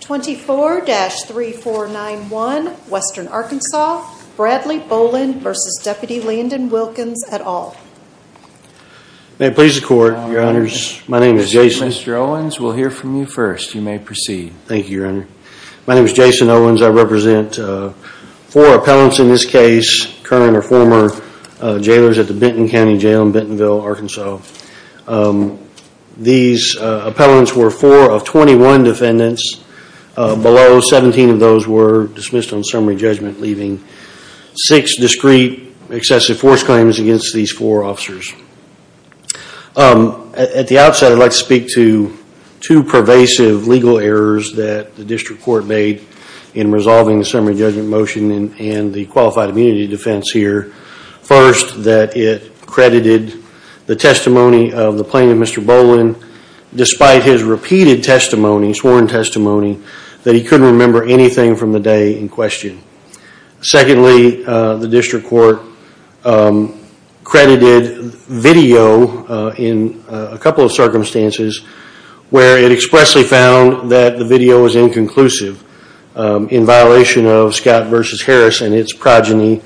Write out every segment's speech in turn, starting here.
24-3491 Western Arkansas, Bradley Bolin v. Deputy Landon Wilkins et al. May it please the Court, Your Honors. My name is Jason. Mr. Owens, we'll hear from you first. You may proceed. Thank you, Your Honor. My name is Jason Owens. I represent four appellants in this case, current or former jailers at the Benton County Jail in Bentonville, Arkansas. These appellants were four of 21 defendants. Below 17 of those were dismissed on summary judgment, leaving six discreet excessive force claims against these four officers. At the outset, I'd like to speak to two pervasive legal errors that the District Court made in resolving the summary judgment motion and the qualified immunity defense here. First, that it credited the testimony of the plaintiff, Mr. Bolin, despite his repeated testimony, sworn testimony, that he couldn't remember anything from the day in question. Secondly, the District Court credited video in a couple of circumstances where it expressly found that the video was inconclusive in violation of Scott v. Harris and its progeny,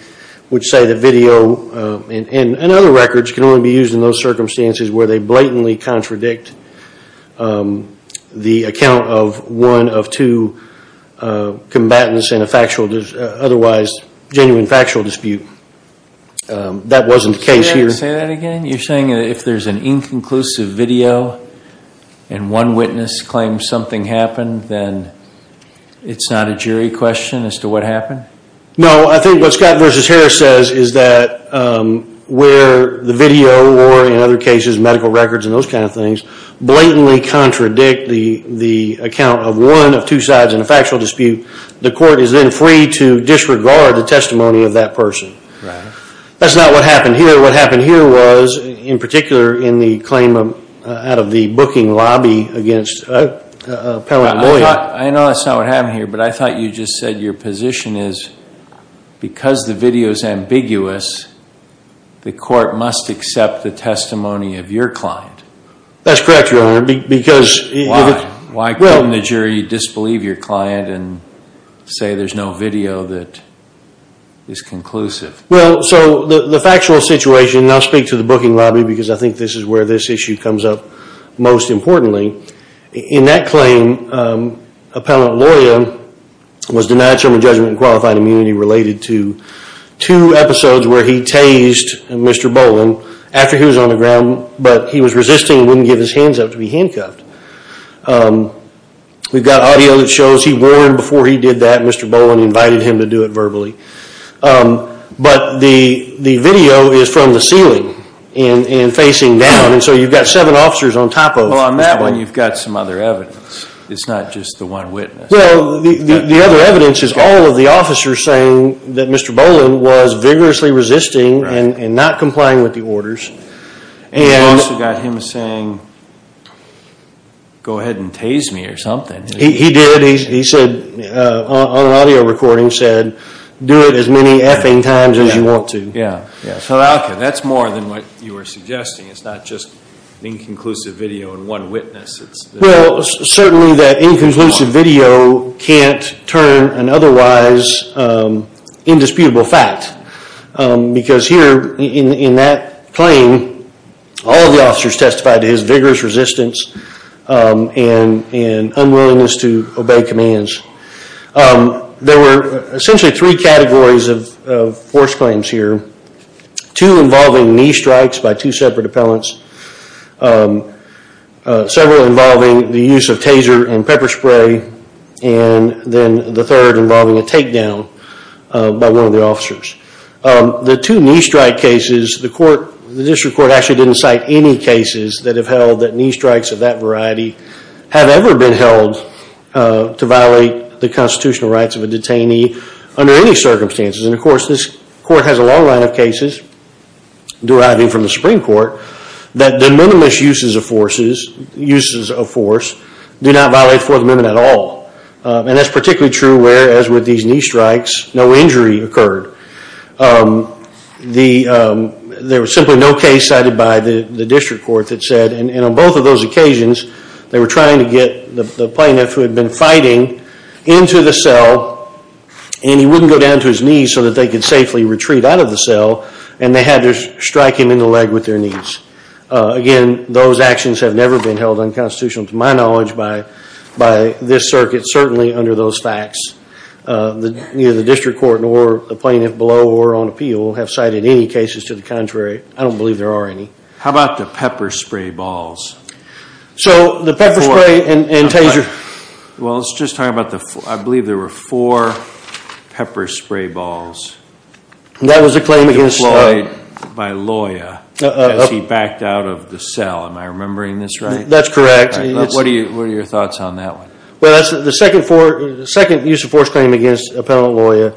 which say that video and other records can only be used in those circumstances where they blatantly contradict the account of one of two combatants in a genuine factual dispute. That wasn't the case here. Say that again? You're saying that if there's an inconclusive video and one witness claims something happened, then it's not a jury question as to what happened? No, I think what Scott v. Harris says is that where the video or, in other cases, medical records and those kinds of things blatantly contradict the account of one of two sides in a factual dispute, the court is then free to disregard the testimony of that person. That's not what happened here. What happened here was, in particular, in the claim out of the booking lobby against Appellant Bolin. I know that's not what happened here, but I thought you just said your position is, because the video is ambiguous, the court must accept the testimony of your client. That's correct, Your Honor. Why? Why couldn't the jury disbelieve your client and say there's no video that is conclusive? Well, so the factual situation, and I'll speak to the booking lobby because I think this is where this issue comes up most importantly. In that claim, Appellant Loya was denied term of judgment and qualified immunity related to two episodes where he tased Mr. Bolin after he was on the ground, but he was resisting and wouldn't give his hands up to be handcuffed. We've got audio that shows he warned before he did that Mr. Bolin invited him to do it verbally. But the video is from the ceiling and facing down, and so you've got seven officers on top of him. Well, on that one you've got some other evidence. It's not just the one witness. Well, the other evidence is all of the officers saying that Mr. Bolin was vigorously resisting and not complying with the orders. You've also got him saying, go ahead and tase me or something. He did. On an audio recording he said, do it as many effing times as you want to. So that's more than what you were suggesting. It's not just inconclusive video and one witness. Well, certainly that inconclusive video can't turn an otherwise indisputable fact. Because here in that claim, all of the officers testified to his vigorous resistance and unwillingness to obey commands. There were essentially three categories of force claims here. Two involving knee strikes by two separate appellants. Several involving the use of taser and pepper spray. And then the third involving a takedown by one of the officers. The two knee strike cases, the district court actually didn't cite any cases that have held that knee strikes of that variety have ever been held to violate the constitutional rights of a detainee under any circumstances. And of course, this court has a long line of cases deriving from the Supreme Court that the minimalist uses of force do not violate the Fourth Amendment at all. And that's particularly true where, as with these knee strikes, no injury occurred. There was simply no case cited by the district court that said, and on both of those occasions, they were trying to get the plaintiff who had been fighting into the cell, and he wouldn't go down to his knees so that they could safely retreat out of the cell, and they had to strike him in the leg with their knees. Again, those actions have never been held unconstitutional to my knowledge by this circuit, certainly under those facts. Neither the district court nor the plaintiff below or on appeal have cited any cases to the contrary. I don't believe there are any. How about the pepper spray balls? So the pepper spray and taser… Well, let's just talk about the…I believe there were four pepper spray balls… That was a claim against… …deployed by a lawyer as he backed out of the cell. Am I remembering this right? That's correct. What are your thoughts on that one? Well, that's the second use of force claim against an appellant lawyer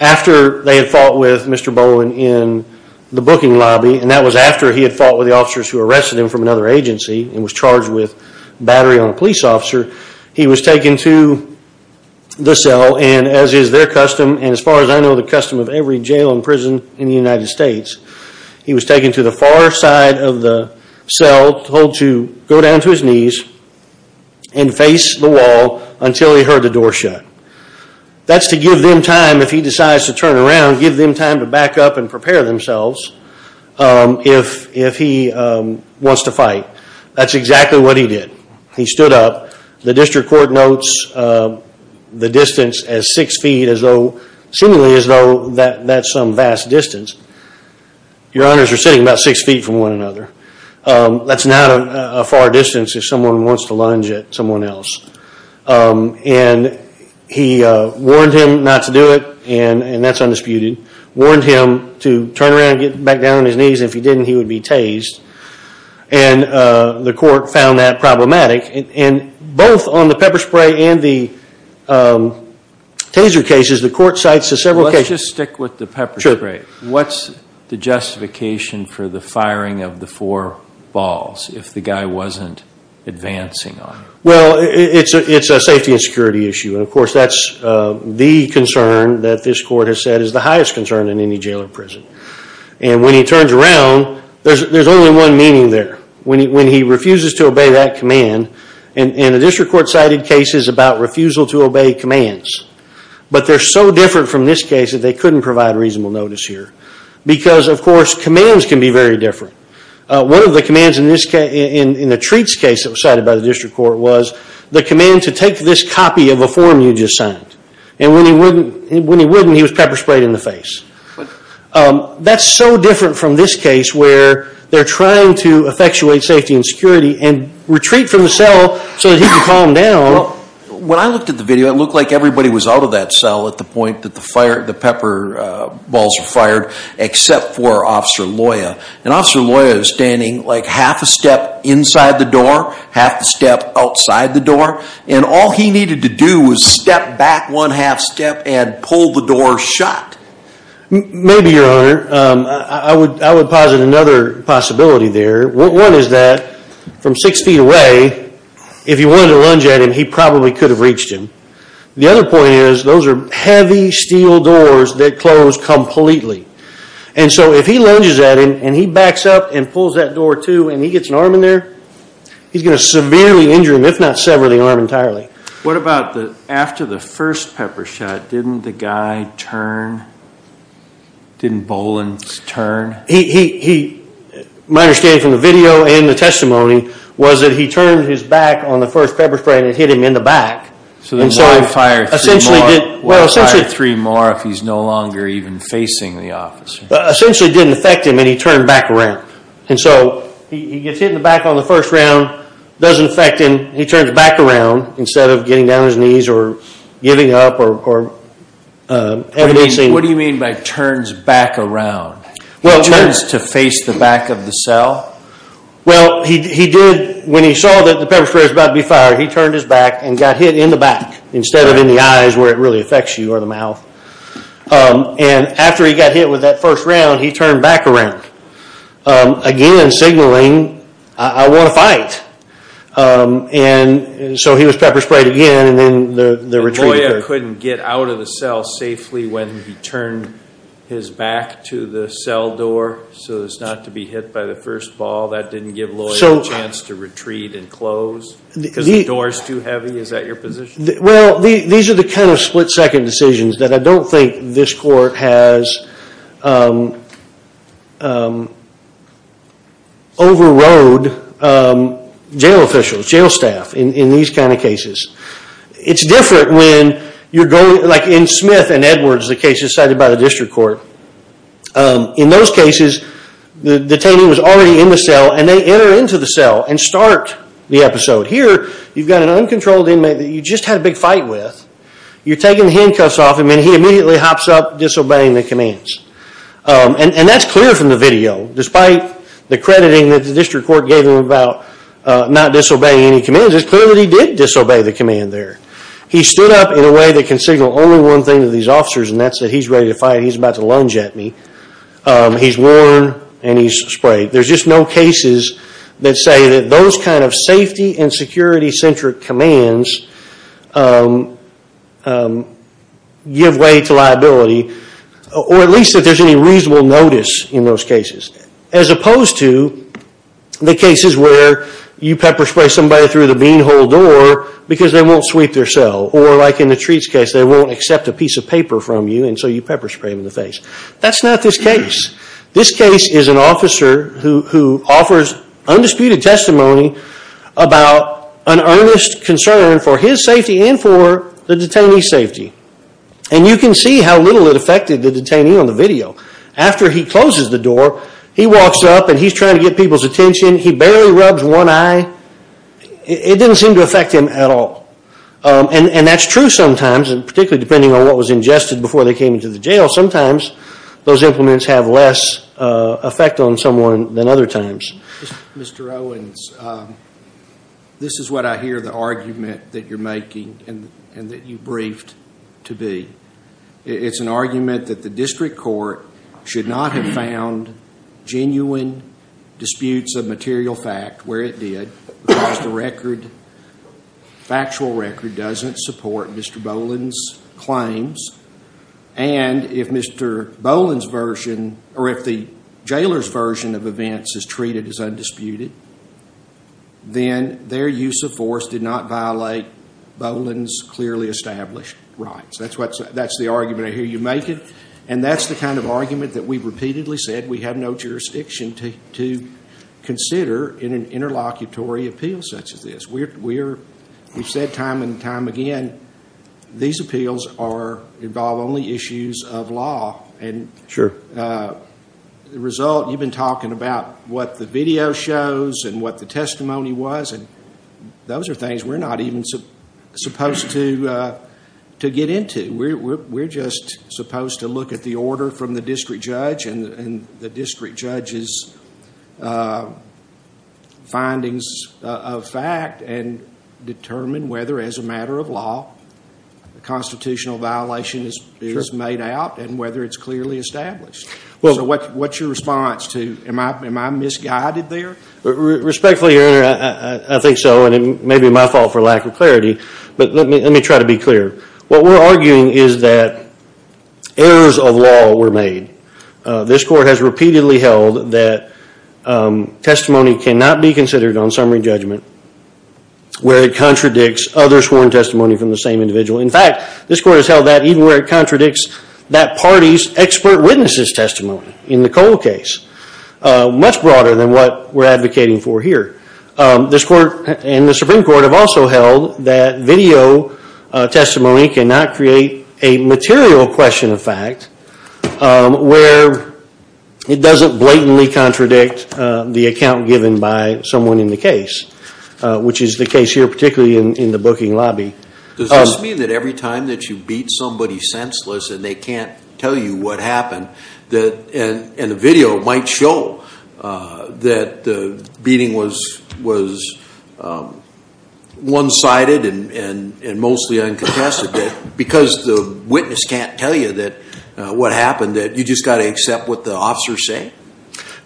after they had fought with Mr. Bowen in the booking lobby, and that was after he had fought with the officers who arrested him from another agency and was charged with battery on a police officer. He was taken to the cell, and as is their custom, and as far as I know the custom of every jail and prison in the United States, he was taken to the far side of the cell, told to go down to his knees and face the wall until he heard the door shut. That's to give them time, if he decides to turn around, give them time to back up and prepare themselves if he wants to fight. That's exactly what he did. He stood up. The district court notes the distance as six feet, seemingly as though that's some vast distance. Your honors are sitting about six feet from one another. That's not a far distance if someone wants to lunge at someone else. And he warned him not to do it, and that's undisputed. Warned him to turn around and get back down on his knees, and if he didn't, he would be tased. And the court found that problematic. And both on the pepper spray and the taser cases, the court cites to several cases. Let's just stick with the pepper spray. What's the justification for the firing of the four balls if the guy wasn't advancing on you? Well, it's a safety and security issue, and of course that's the concern that this court has said is the highest concern in any jail or prison. And when he turns around, there's only one meaning there. When he refuses to obey that command, and the district court cited cases about refusal to obey commands. But they're so different from this case that they couldn't provide reasonable notice here. Because, of course, commands can be very different. One of the commands in the treats case that was cited by the district court was the command to take this copy of a form you just signed. And when he wouldn't, he was pepper sprayed in the face. That's so different from this case where they're trying to effectuate safety and security and retreat from the cell so that he can calm down. Well, when I looked at the video, it looked like everybody was out of that cell at the point that the pepper balls were fired, except for Officer Loya. And Officer Loya was standing like half a step inside the door, half a step outside the door. And all he needed to do was step back one half step and pull the door shut. Maybe, Your Honor. I would posit another possibility there. One is that from six feet away, if you wanted to lunge at him, he probably could have reached him. The other point is, those are heavy steel doors that close completely. And so if he lunges at him and he backs up and pulls that door too and he gets an arm in there, he's going to severely injure him, if not sever the arm entirely. What about after the first pepper shot, didn't the guy turn? Didn't Boland turn? My understanding from the video and the testimony was that he turned his back on the first pepper spray and it hit him in the back. So then why fire three more if he's no longer even facing the officer? Essentially it didn't affect him and he turned back around. And so he gets hit in the back on the first round, it doesn't affect him, he turns back around instead of getting down on his knees or giving up or evading. What do you mean by turns back around? He turns to face the back of the cell? Well, when he saw that the pepper spray was about to be fired, he turned his back and got hit in the back instead of in the eyes where it really affects you or the mouth. And after he got hit with that first round, he turned back around. Again signaling, I want to fight. And so he was pepper sprayed again and then the retreat occurred. So the lawyer couldn't get out of the cell safely when he turned his back to the cell door so as not to be hit by the first ball? That didn't give the lawyer a chance to retreat and close because the door is too heavy? Is that your position? Well, these are the kind of split second decisions that I don't think this court has overrode jail officials, jail staff in these kind of cases. It's different when, like in Smith and Edwards, the cases cited by the district court. In those cases, the detainee was already in the cell and they enter into the cell and start the episode. Here, you've got an uncontrolled inmate that you just had a big fight with. You're taking the handcuffs off him and he immediately hops up disobeying the commands. And that's clear from the video, despite the crediting that the district court gave him about not disobeying any commands. It's clear that he did disobey the command there. He stood up in a way that can signal only one thing to these officers and that's that he's ready to fight. He's about to lunge at me. He's worn and he's sprayed. There's just no cases that say that those kind of safety and security centric commands give way to liability. Or at least that there's any reasonable notice in those cases. As opposed to the cases where you pepper spray somebody through the bean hole door because they won't sweep their cell. Or like in the Treats case, they won't accept a piece of paper from you and so you pepper spray them in the face. That's not this case. This case is an officer who offers undisputed testimony about an earnest concern for his safety and for the detainee's safety. And you can see how little it affected the detainee on the video. After he closes the door, he walks up and he's trying to get people's attention. He barely rubs one eye. It didn't seem to affect him at all. And that's true sometimes, particularly depending on what was ingested before they came into the jail. Sometimes those implements have less effect on someone than other times. Mr. Owens, this is what I hear the argument that you're making and that you briefed to be. It's an argument that the district court should not have found genuine disputes of material fact where it did because the record, factual record, doesn't support Mr. Boland's claims. And if Mr. Boland's version or if the jailer's version of events is treated as undisputed, then their use of force did not violate Boland's clearly established rights. That's the argument I hear you making. And that's the kind of argument that we've repeatedly said we have no jurisdiction to consider in an interlocutory appeal such as this. We've said time and time again these appeals involve only issues of law. Sure. The result, you've been talking about what the video shows and what the testimony was, and those are things we're not even supposed to get into. We're just supposed to look at the order from the district judge and the district judge's findings of fact and determine whether as a matter of law a constitutional violation is made out and whether it's clearly established. So what's your response to am I misguided there? Respectfully, Your Honor, I think so, and it may be my fault for lack of clarity, but let me try to be clear. What we're arguing is that errors of law were made. This court has repeatedly held that testimony cannot be considered on summary judgment where it contradicts other sworn testimony from the same individual. In fact, this court has held that even where it contradicts that party's expert witness's testimony in the Cole case, much broader than what we're advocating for here. This court and the Supreme Court have also held that video testimony cannot create a material question of fact where it doesn't blatantly contradict the account given by someone in the case, which is the case here particularly in the booking lobby. Does this mean that every time that you beat somebody senseless and they can't tell you what happened, and the video might show that the beating was one-sided and mostly uncontested, because the witness can't tell you what happened, that you just got to accept what the officers say?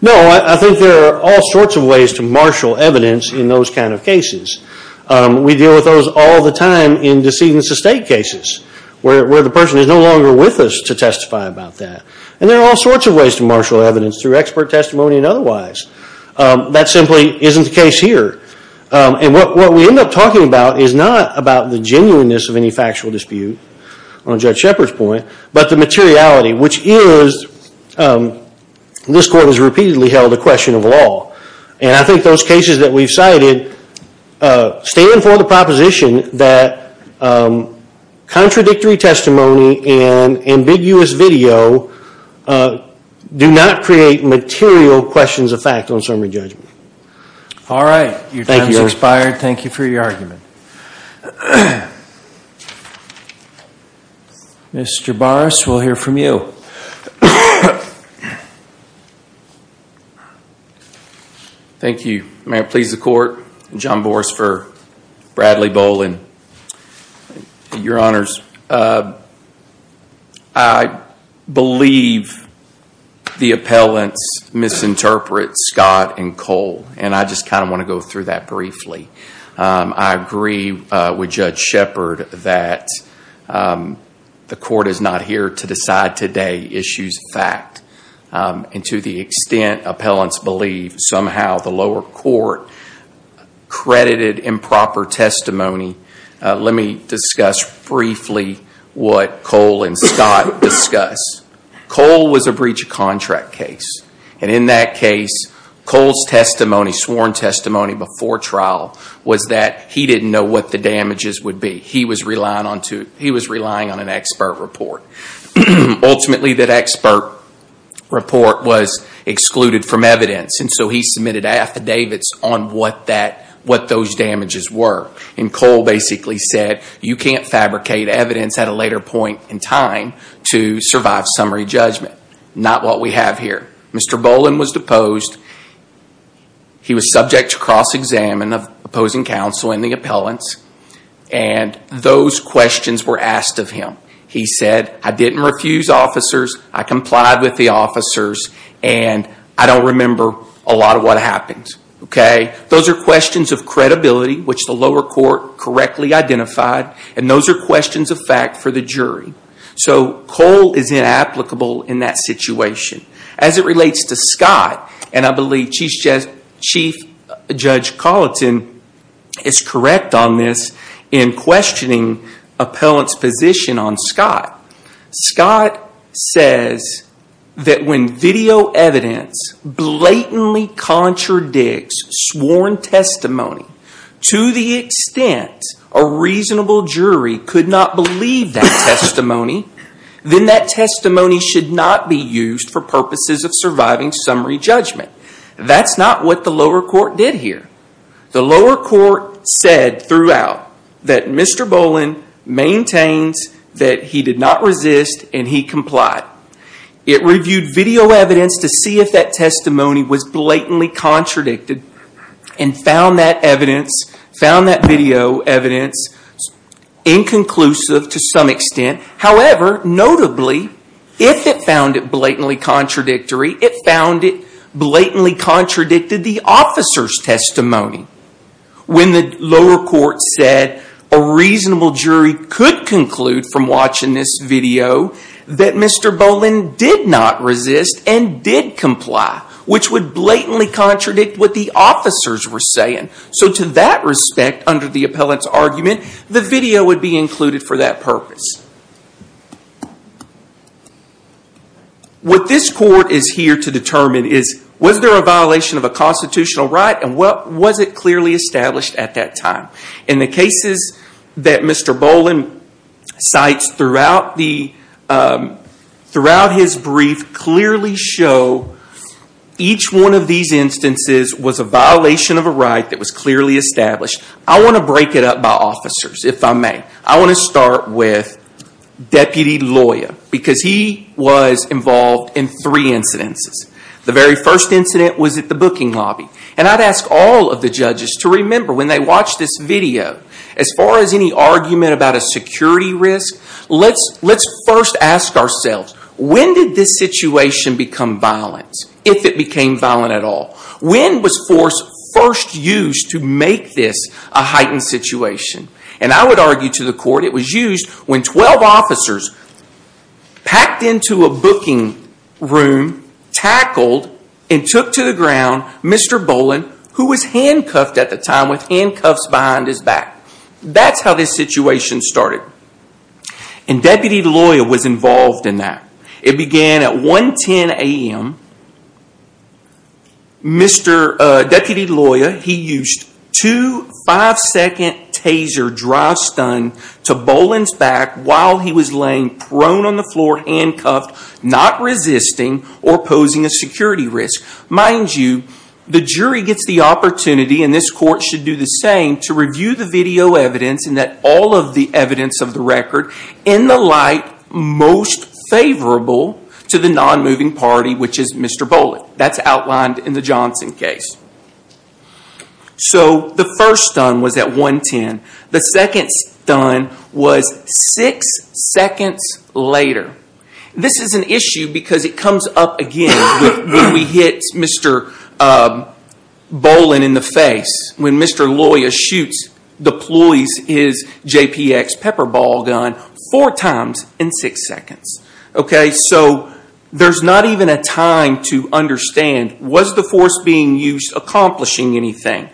No, I think there are all sorts of ways to marshal evidence in those kind of cases. We deal with those all the time in decedents of state cases where the person is no longer with us to testify about that. And there are all sorts of ways to marshal evidence through expert testimony and otherwise. That simply isn't the case here. And what we end up talking about is not about the genuineness of any factual dispute on Judge Shepard's point, but the materiality, which is, this court has repeatedly held a question of law. And I think those cases that we've cited stand for the proposition that contradictory testimony and ambiguous video do not create material questions of fact on summary judgment. All right. Your time has expired. Thank you for your argument. Mr. Boris, we'll hear from you. Thank you. May it please the Court. John Bors for Bradley Bowlin. Your Honors, I believe the appellants misinterpret Scott and Cole. And I just kind of want to go through that briefly. I agree with Judge Shepard that the court is not here to decide today issues of fact. And to the extent appellants believe somehow the lower court credited improper testimony, let me discuss briefly what Cole and Scott discuss. Cole was a breach of contract case. And in that case, Cole's testimony, sworn testimony before trial, was that he didn't know what the damages would be. He was relying on an expert report. Ultimately, that expert report was excluded from evidence. And so he submitted affidavits on what those damages were. And Cole basically said, you can't fabricate evidence at a later point in time to survive summary judgment. Not what we have here. Mr. Bowlin was deposed. He was subject to cross-examine of opposing counsel and the appellants. And those questions were asked of him. He said, I didn't refuse officers. I complied with the officers. And I don't remember a lot of what happened. Those are questions of credibility, which the lower court correctly identified. And those are questions of fact for the jury. So Cole is inapplicable in that situation. As it relates to Scott, and I believe Chief Judge Colleton is correct on this, in questioning appellants' position on Scott. Scott says that when video evidence blatantly contradicts sworn testimony to the extent a reasonable jury could not believe that testimony, then that testimony should not be used for purposes of surviving summary judgment. That's not what the lower court did here. The lower court said throughout that Mr. Bowlin maintains that he did not resist and he complied. It reviewed video evidence to see if that testimony was blatantly contradicted and found that video evidence inconclusive to some extent. However, notably, if it found it blatantly contradictory, it found it blatantly contradicted the officer's testimony. When the lower court said a reasonable jury could conclude from watching this video that Mr. Bowlin did not resist and did comply, which would blatantly contradict what the officers were saying. So to that respect, under the appellant's argument, the video would be included for that purpose. What this court is here to determine is was there a violation of a constitutional right and was it clearly established at that time? In the cases that Mr. Bowlin cites throughout his brief clearly show each one of these instances was a violation of a right that was clearly established. I want to break it up by officers, if I may. I want to start with Deputy Loya because he was involved in three incidences. The very first incident was at the booking lobby. And I'd ask all of the judges to remember when they watch this video, as far as any argument about a security risk, let's first ask ourselves, when did this situation become violent, if it became violent at all? When was force first used to make this a heightened situation? And I would argue to the court it was used when 12 officers packed into a booking room, tackled, and took to the ground Mr. Bowlin, who was handcuffed at the time with handcuffs behind his back. That's how this situation started. And Deputy Loya was involved in that. It began at 110 a.m. Mr. Deputy Loya, he used two five-second taser drive stun to Bowlin's back while he was laying prone on the floor, handcuffed, not resisting or posing a security risk. Mind you, the jury gets the opportunity, and this court should do the same, to review the video evidence and that all of the evidence of the record, in the light most favorable to the non-moving party, which is Mr. Bowlin. That's outlined in the Johnson case. So the first stun was at 110. The second stun was six seconds later. This is an issue because it comes up again when we hit Mr. Bowlin in the face, when Mr. Loya shoots, deploys his JPX pepper ball gun, four times in six seconds. So there's not even a time to understand, was the force being used accomplishing anything?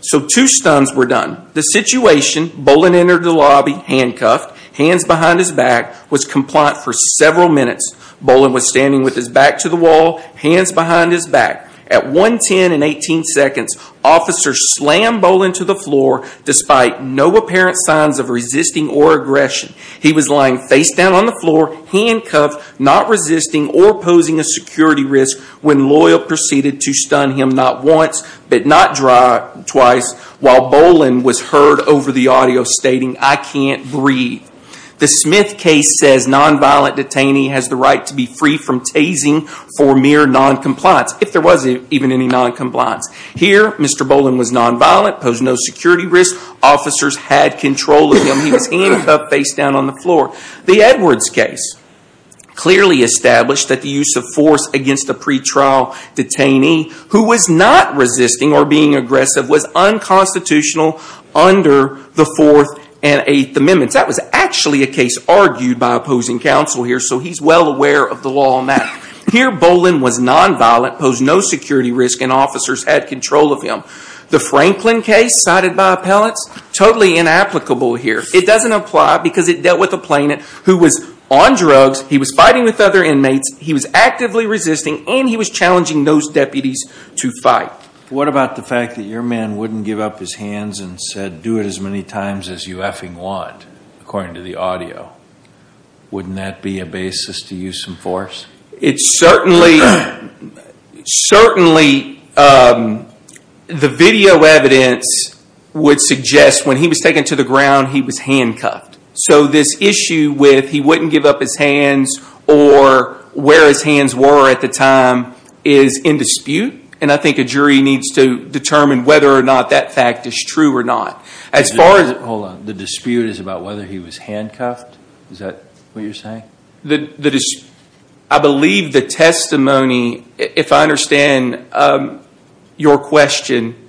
So two stuns were done. The situation, Bowlin entered the lobby, handcuffed, hands behind his back, was compliant for several minutes. Bowlin was standing with his back to the wall, hands behind his back. At 110 and 18 seconds, officers slammed Bowlin to the floor, despite no apparent signs of resisting or aggression. He was lying face down on the floor, handcuffed, not resisting or posing a security risk, when Loya proceeded to stun him not once, but not twice, while Bowlin was heard over the audio stating, I can't breathe. The Smith case says non-violent detainee has the right to be free from tasing for mere non-compliance, if there was even any non-compliance. Here, Mr. Bowlin was non-violent, posed no security risk. Officers had control of him. He was handcuffed face down on the floor. The Edwards case clearly established that the use of force against a pretrial detainee who was not resisting or being aggressive was unconstitutional under the Fourth and Eighth Amendments. That was actually a case argued by opposing counsel here, so he's well aware of the law on that. Here, Bowlin was non-violent, posed no security risk, and officers had control of him. The Franklin case, cited by appellants, totally inapplicable here. It doesn't apply because it dealt with a plaintiff who was on drugs, he was fighting with other inmates, he was actively resisting, and he was challenging those deputies to fight. What about the fact that your man wouldn't give up his hands and said, do it as many times as you effing want, according to the audio? Wouldn't that be a basis to use some force? It certainly, certainly the video evidence would suggest when he was taken to the ground, he was handcuffed. So this issue with he wouldn't give up his hands or where his hands were at the time is in dispute, and I think a jury needs to determine whether or not that fact is true or not. Hold on, the dispute is about whether he was handcuffed? Is that what you're saying? I believe the testimony, if I understand your question,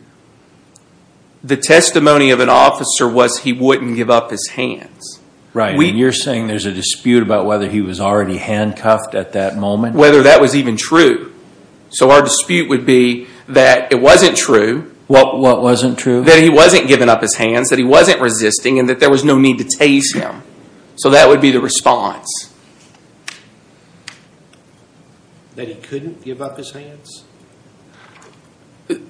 the testimony of an officer was he wouldn't give up his hands. Right, and you're saying there's a dispute about whether he was already handcuffed at that moment? Whether that was even true. So our dispute would be that it wasn't true. What wasn't true? That he wasn't giving up his hands, that he wasn't resisting, and that there was no need to tase him. So that would be the response. That he couldn't give up his hands?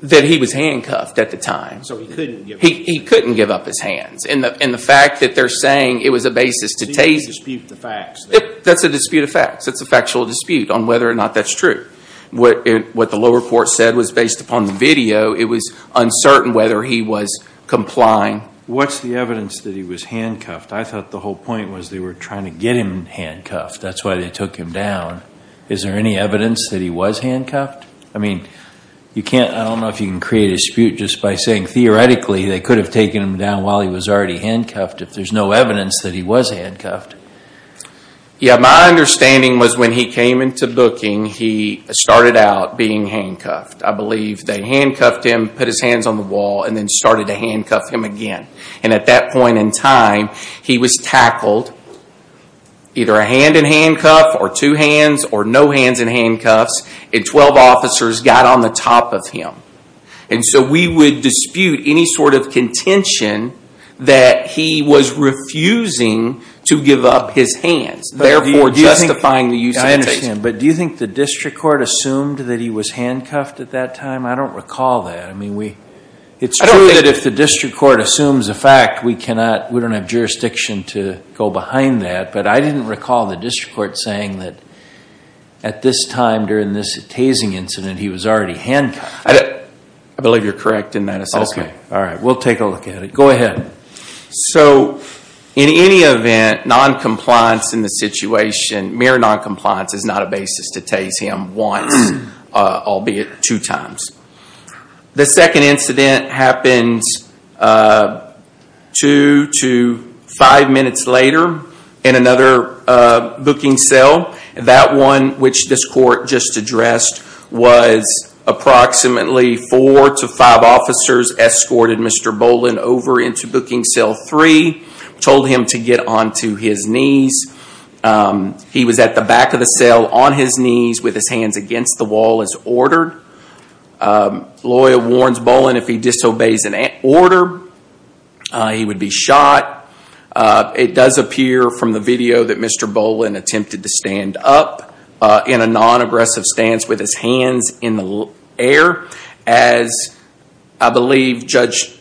That he was handcuffed at the time. So he couldn't give up his hands? He couldn't give up his hands, and the fact that they're saying it was a basis to tase him. So you dispute the facts then? That's a dispute of facts. That's a factual dispute on whether or not that's true. What the lower court said was based upon the video, it was uncertain whether he was complying. What's the evidence that he was handcuffed? I thought the whole point was they were trying to get him handcuffed. That's why they took him down. Is there any evidence that he was handcuffed? I mean, you can't, I don't know if you can create a dispute just by saying theoretically they could have taken him down while he was already handcuffed if there's no evidence that he was handcuffed. Yeah, my understanding was when he came into booking, he started out being handcuffed. I believe they handcuffed him, put his hands on the wall, and then started to handcuff him again. And at that point in time, he was tackled, either a hand in handcuff or two hands or no hands in handcuffs, and 12 officers got on the top of him. And so we would dispute any sort of contention that he was refusing to give up his hands, therefore justifying the use of the taser. I understand, but do you think the district court assumed that he was handcuffed at that time? I don't recall that. It's true that if the district court assumes a fact, we don't have jurisdiction to go behind that, but I didn't recall the district court saying that at this time during this tasing incident, he was already handcuffed. I believe you're correct in that assessment. Okay, all right. We'll take a look at it. Go ahead. So in any event, noncompliance in the situation, mere noncompliance is not a basis to tase him once, albeit two times. The second incident happens two to five minutes later in another booking cell. That one, which this court just addressed, was approximately four to five officers escorted Mr. Boland over into booking cell three, told him to get onto his knees. He was at the back of the cell on his knees with his hands against the wall as ordered. Lawyer warns Boland if he disobeys an order, he would be shot. It does appear from the video that Mr. Boland attempted to stand up in a non-aggressive stance with his hands in the air. As I believe Judge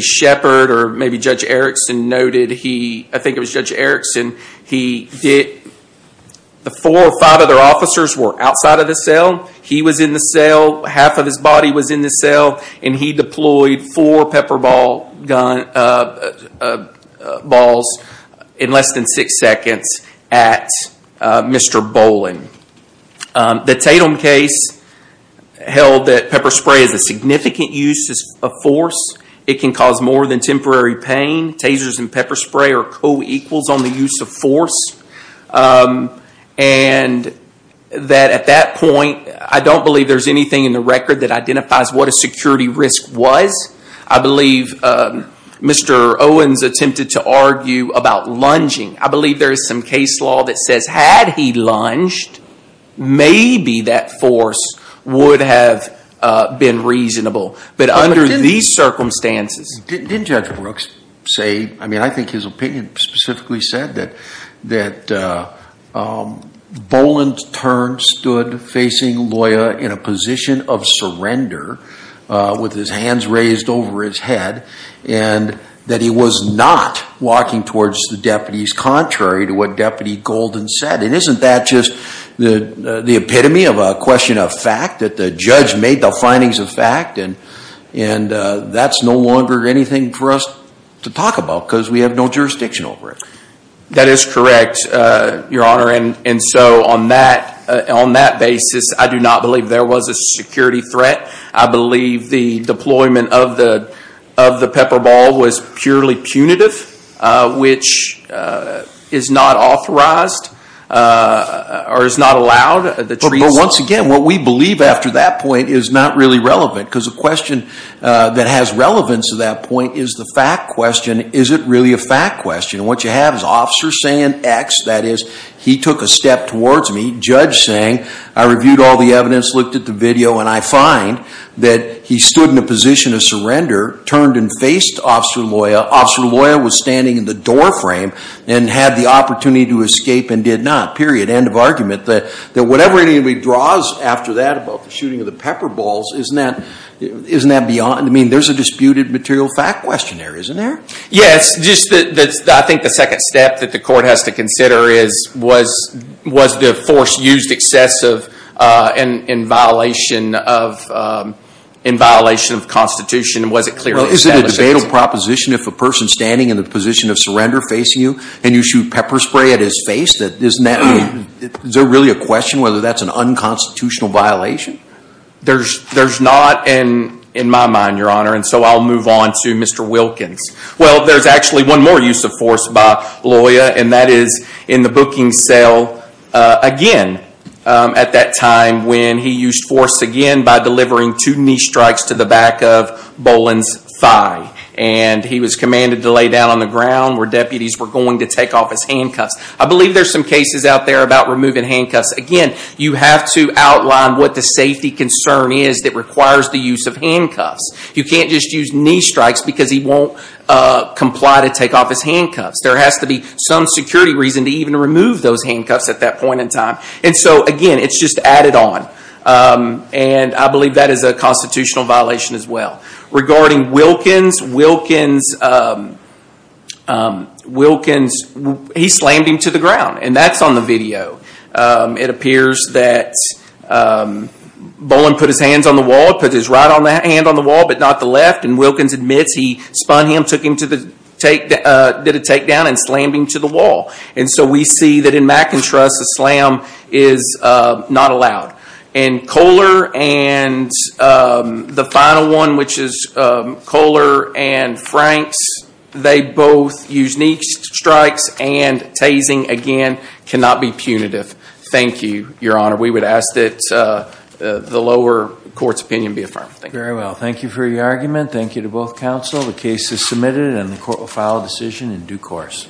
Sheppard or maybe Judge Erickson noted, I think it was Judge Erickson, the four or five other officers were outside of the cell. He was in the cell. Half of his body was in the cell. And he deployed four pepper balls in less than six seconds at Mr. Boland. The Tatum case held that pepper spray is a significant use of force. It can cause more than temporary pain. Tasers and pepper spray are co-equals on the use of force. And that at that point, I don't believe there's anything in the record that identifies what a security risk was. I believe Mr. Owens attempted to argue about lunging. I believe there is some case law that says had he lunged, maybe that force would have been reasonable. But under these circumstances. Didn't Judge Brooks say, I mean, I think his opinion specifically said that Boland's turn stood facing Loya in a position of surrender with his hands raised over his head and that he was not walking towards the deputies contrary to what Deputy Golden said. And isn't that just the epitome of a question of fact that the judge made the findings of fact. And that's no longer anything for us to talk about, because we have no jurisdiction over it. That is correct, Your Honor. And so on that basis, I do not believe there was a security threat. I believe the deployment of the pepper ball was purely punitive, which is not authorized or is not allowed. But once again, what we believe after that point is not really relevant. Because the question that has relevance to that point is the fact question. Is it really a fact question? And what you have is officer saying X. That is, he took a step towards me. Judge saying, I reviewed all the evidence, looked at the video, and I find that he stood in a position of surrender, turned and faced Officer Loya. Officer Loya was standing in the door frame and had the opportunity to escape and did not. Period. End of argument. That whatever anybody draws after that about the shooting of the pepper balls, isn't that beyond? I mean, there's a disputed material fact questionnaire, isn't there? Yes. I think the second step that the court has to consider was the force used excessive in violation of Constitution. Was it clearly established? Well, isn't it a debatable proposition if a person standing in the position of surrender facing you and you shoot pepper spray at his face? Is there really a question whether that's an unconstitutional violation? There's not in my mind, Your Honor. And so I'll move on to Mr. Wilkins. Well, there's actually one more use of force by Loya, and that is in the booking cell again at that time when he used force again by delivering two knee strikes to the back of Boland's thigh. And he was commanded to lay down on the ground where deputies were going to take off his handcuffs. I believe there are some cases out there about removing handcuffs. Again, you have to outline what the safety concern is that requires the use of handcuffs. You can't just use knee strikes because he won't comply to take off his handcuffs. There has to be some security reason to even remove those handcuffs at that point in time. And so, again, it's just added on. And I believe that is a constitutional violation as well. Regarding Wilkins, he slammed him to the ground. And that's on the video. It appears that Boland put his hands on the wall, put his right hand on the wall, but not the left. And Wilkins admits he spun him, did a takedown, and slammed him to the wall. And so we see that in McIntrust, a slam is not allowed. And Kohler and the final one, which is Kohler and Franks, they both used knee strikes and tasing. Again, cannot be punitive. Thank you, Your Honor. We would ask that the lower court's opinion be affirmed. Thank you. Very well. Thank you for your argument. Thank you to both counsel. The case is submitted, and the court will file a decision in due course.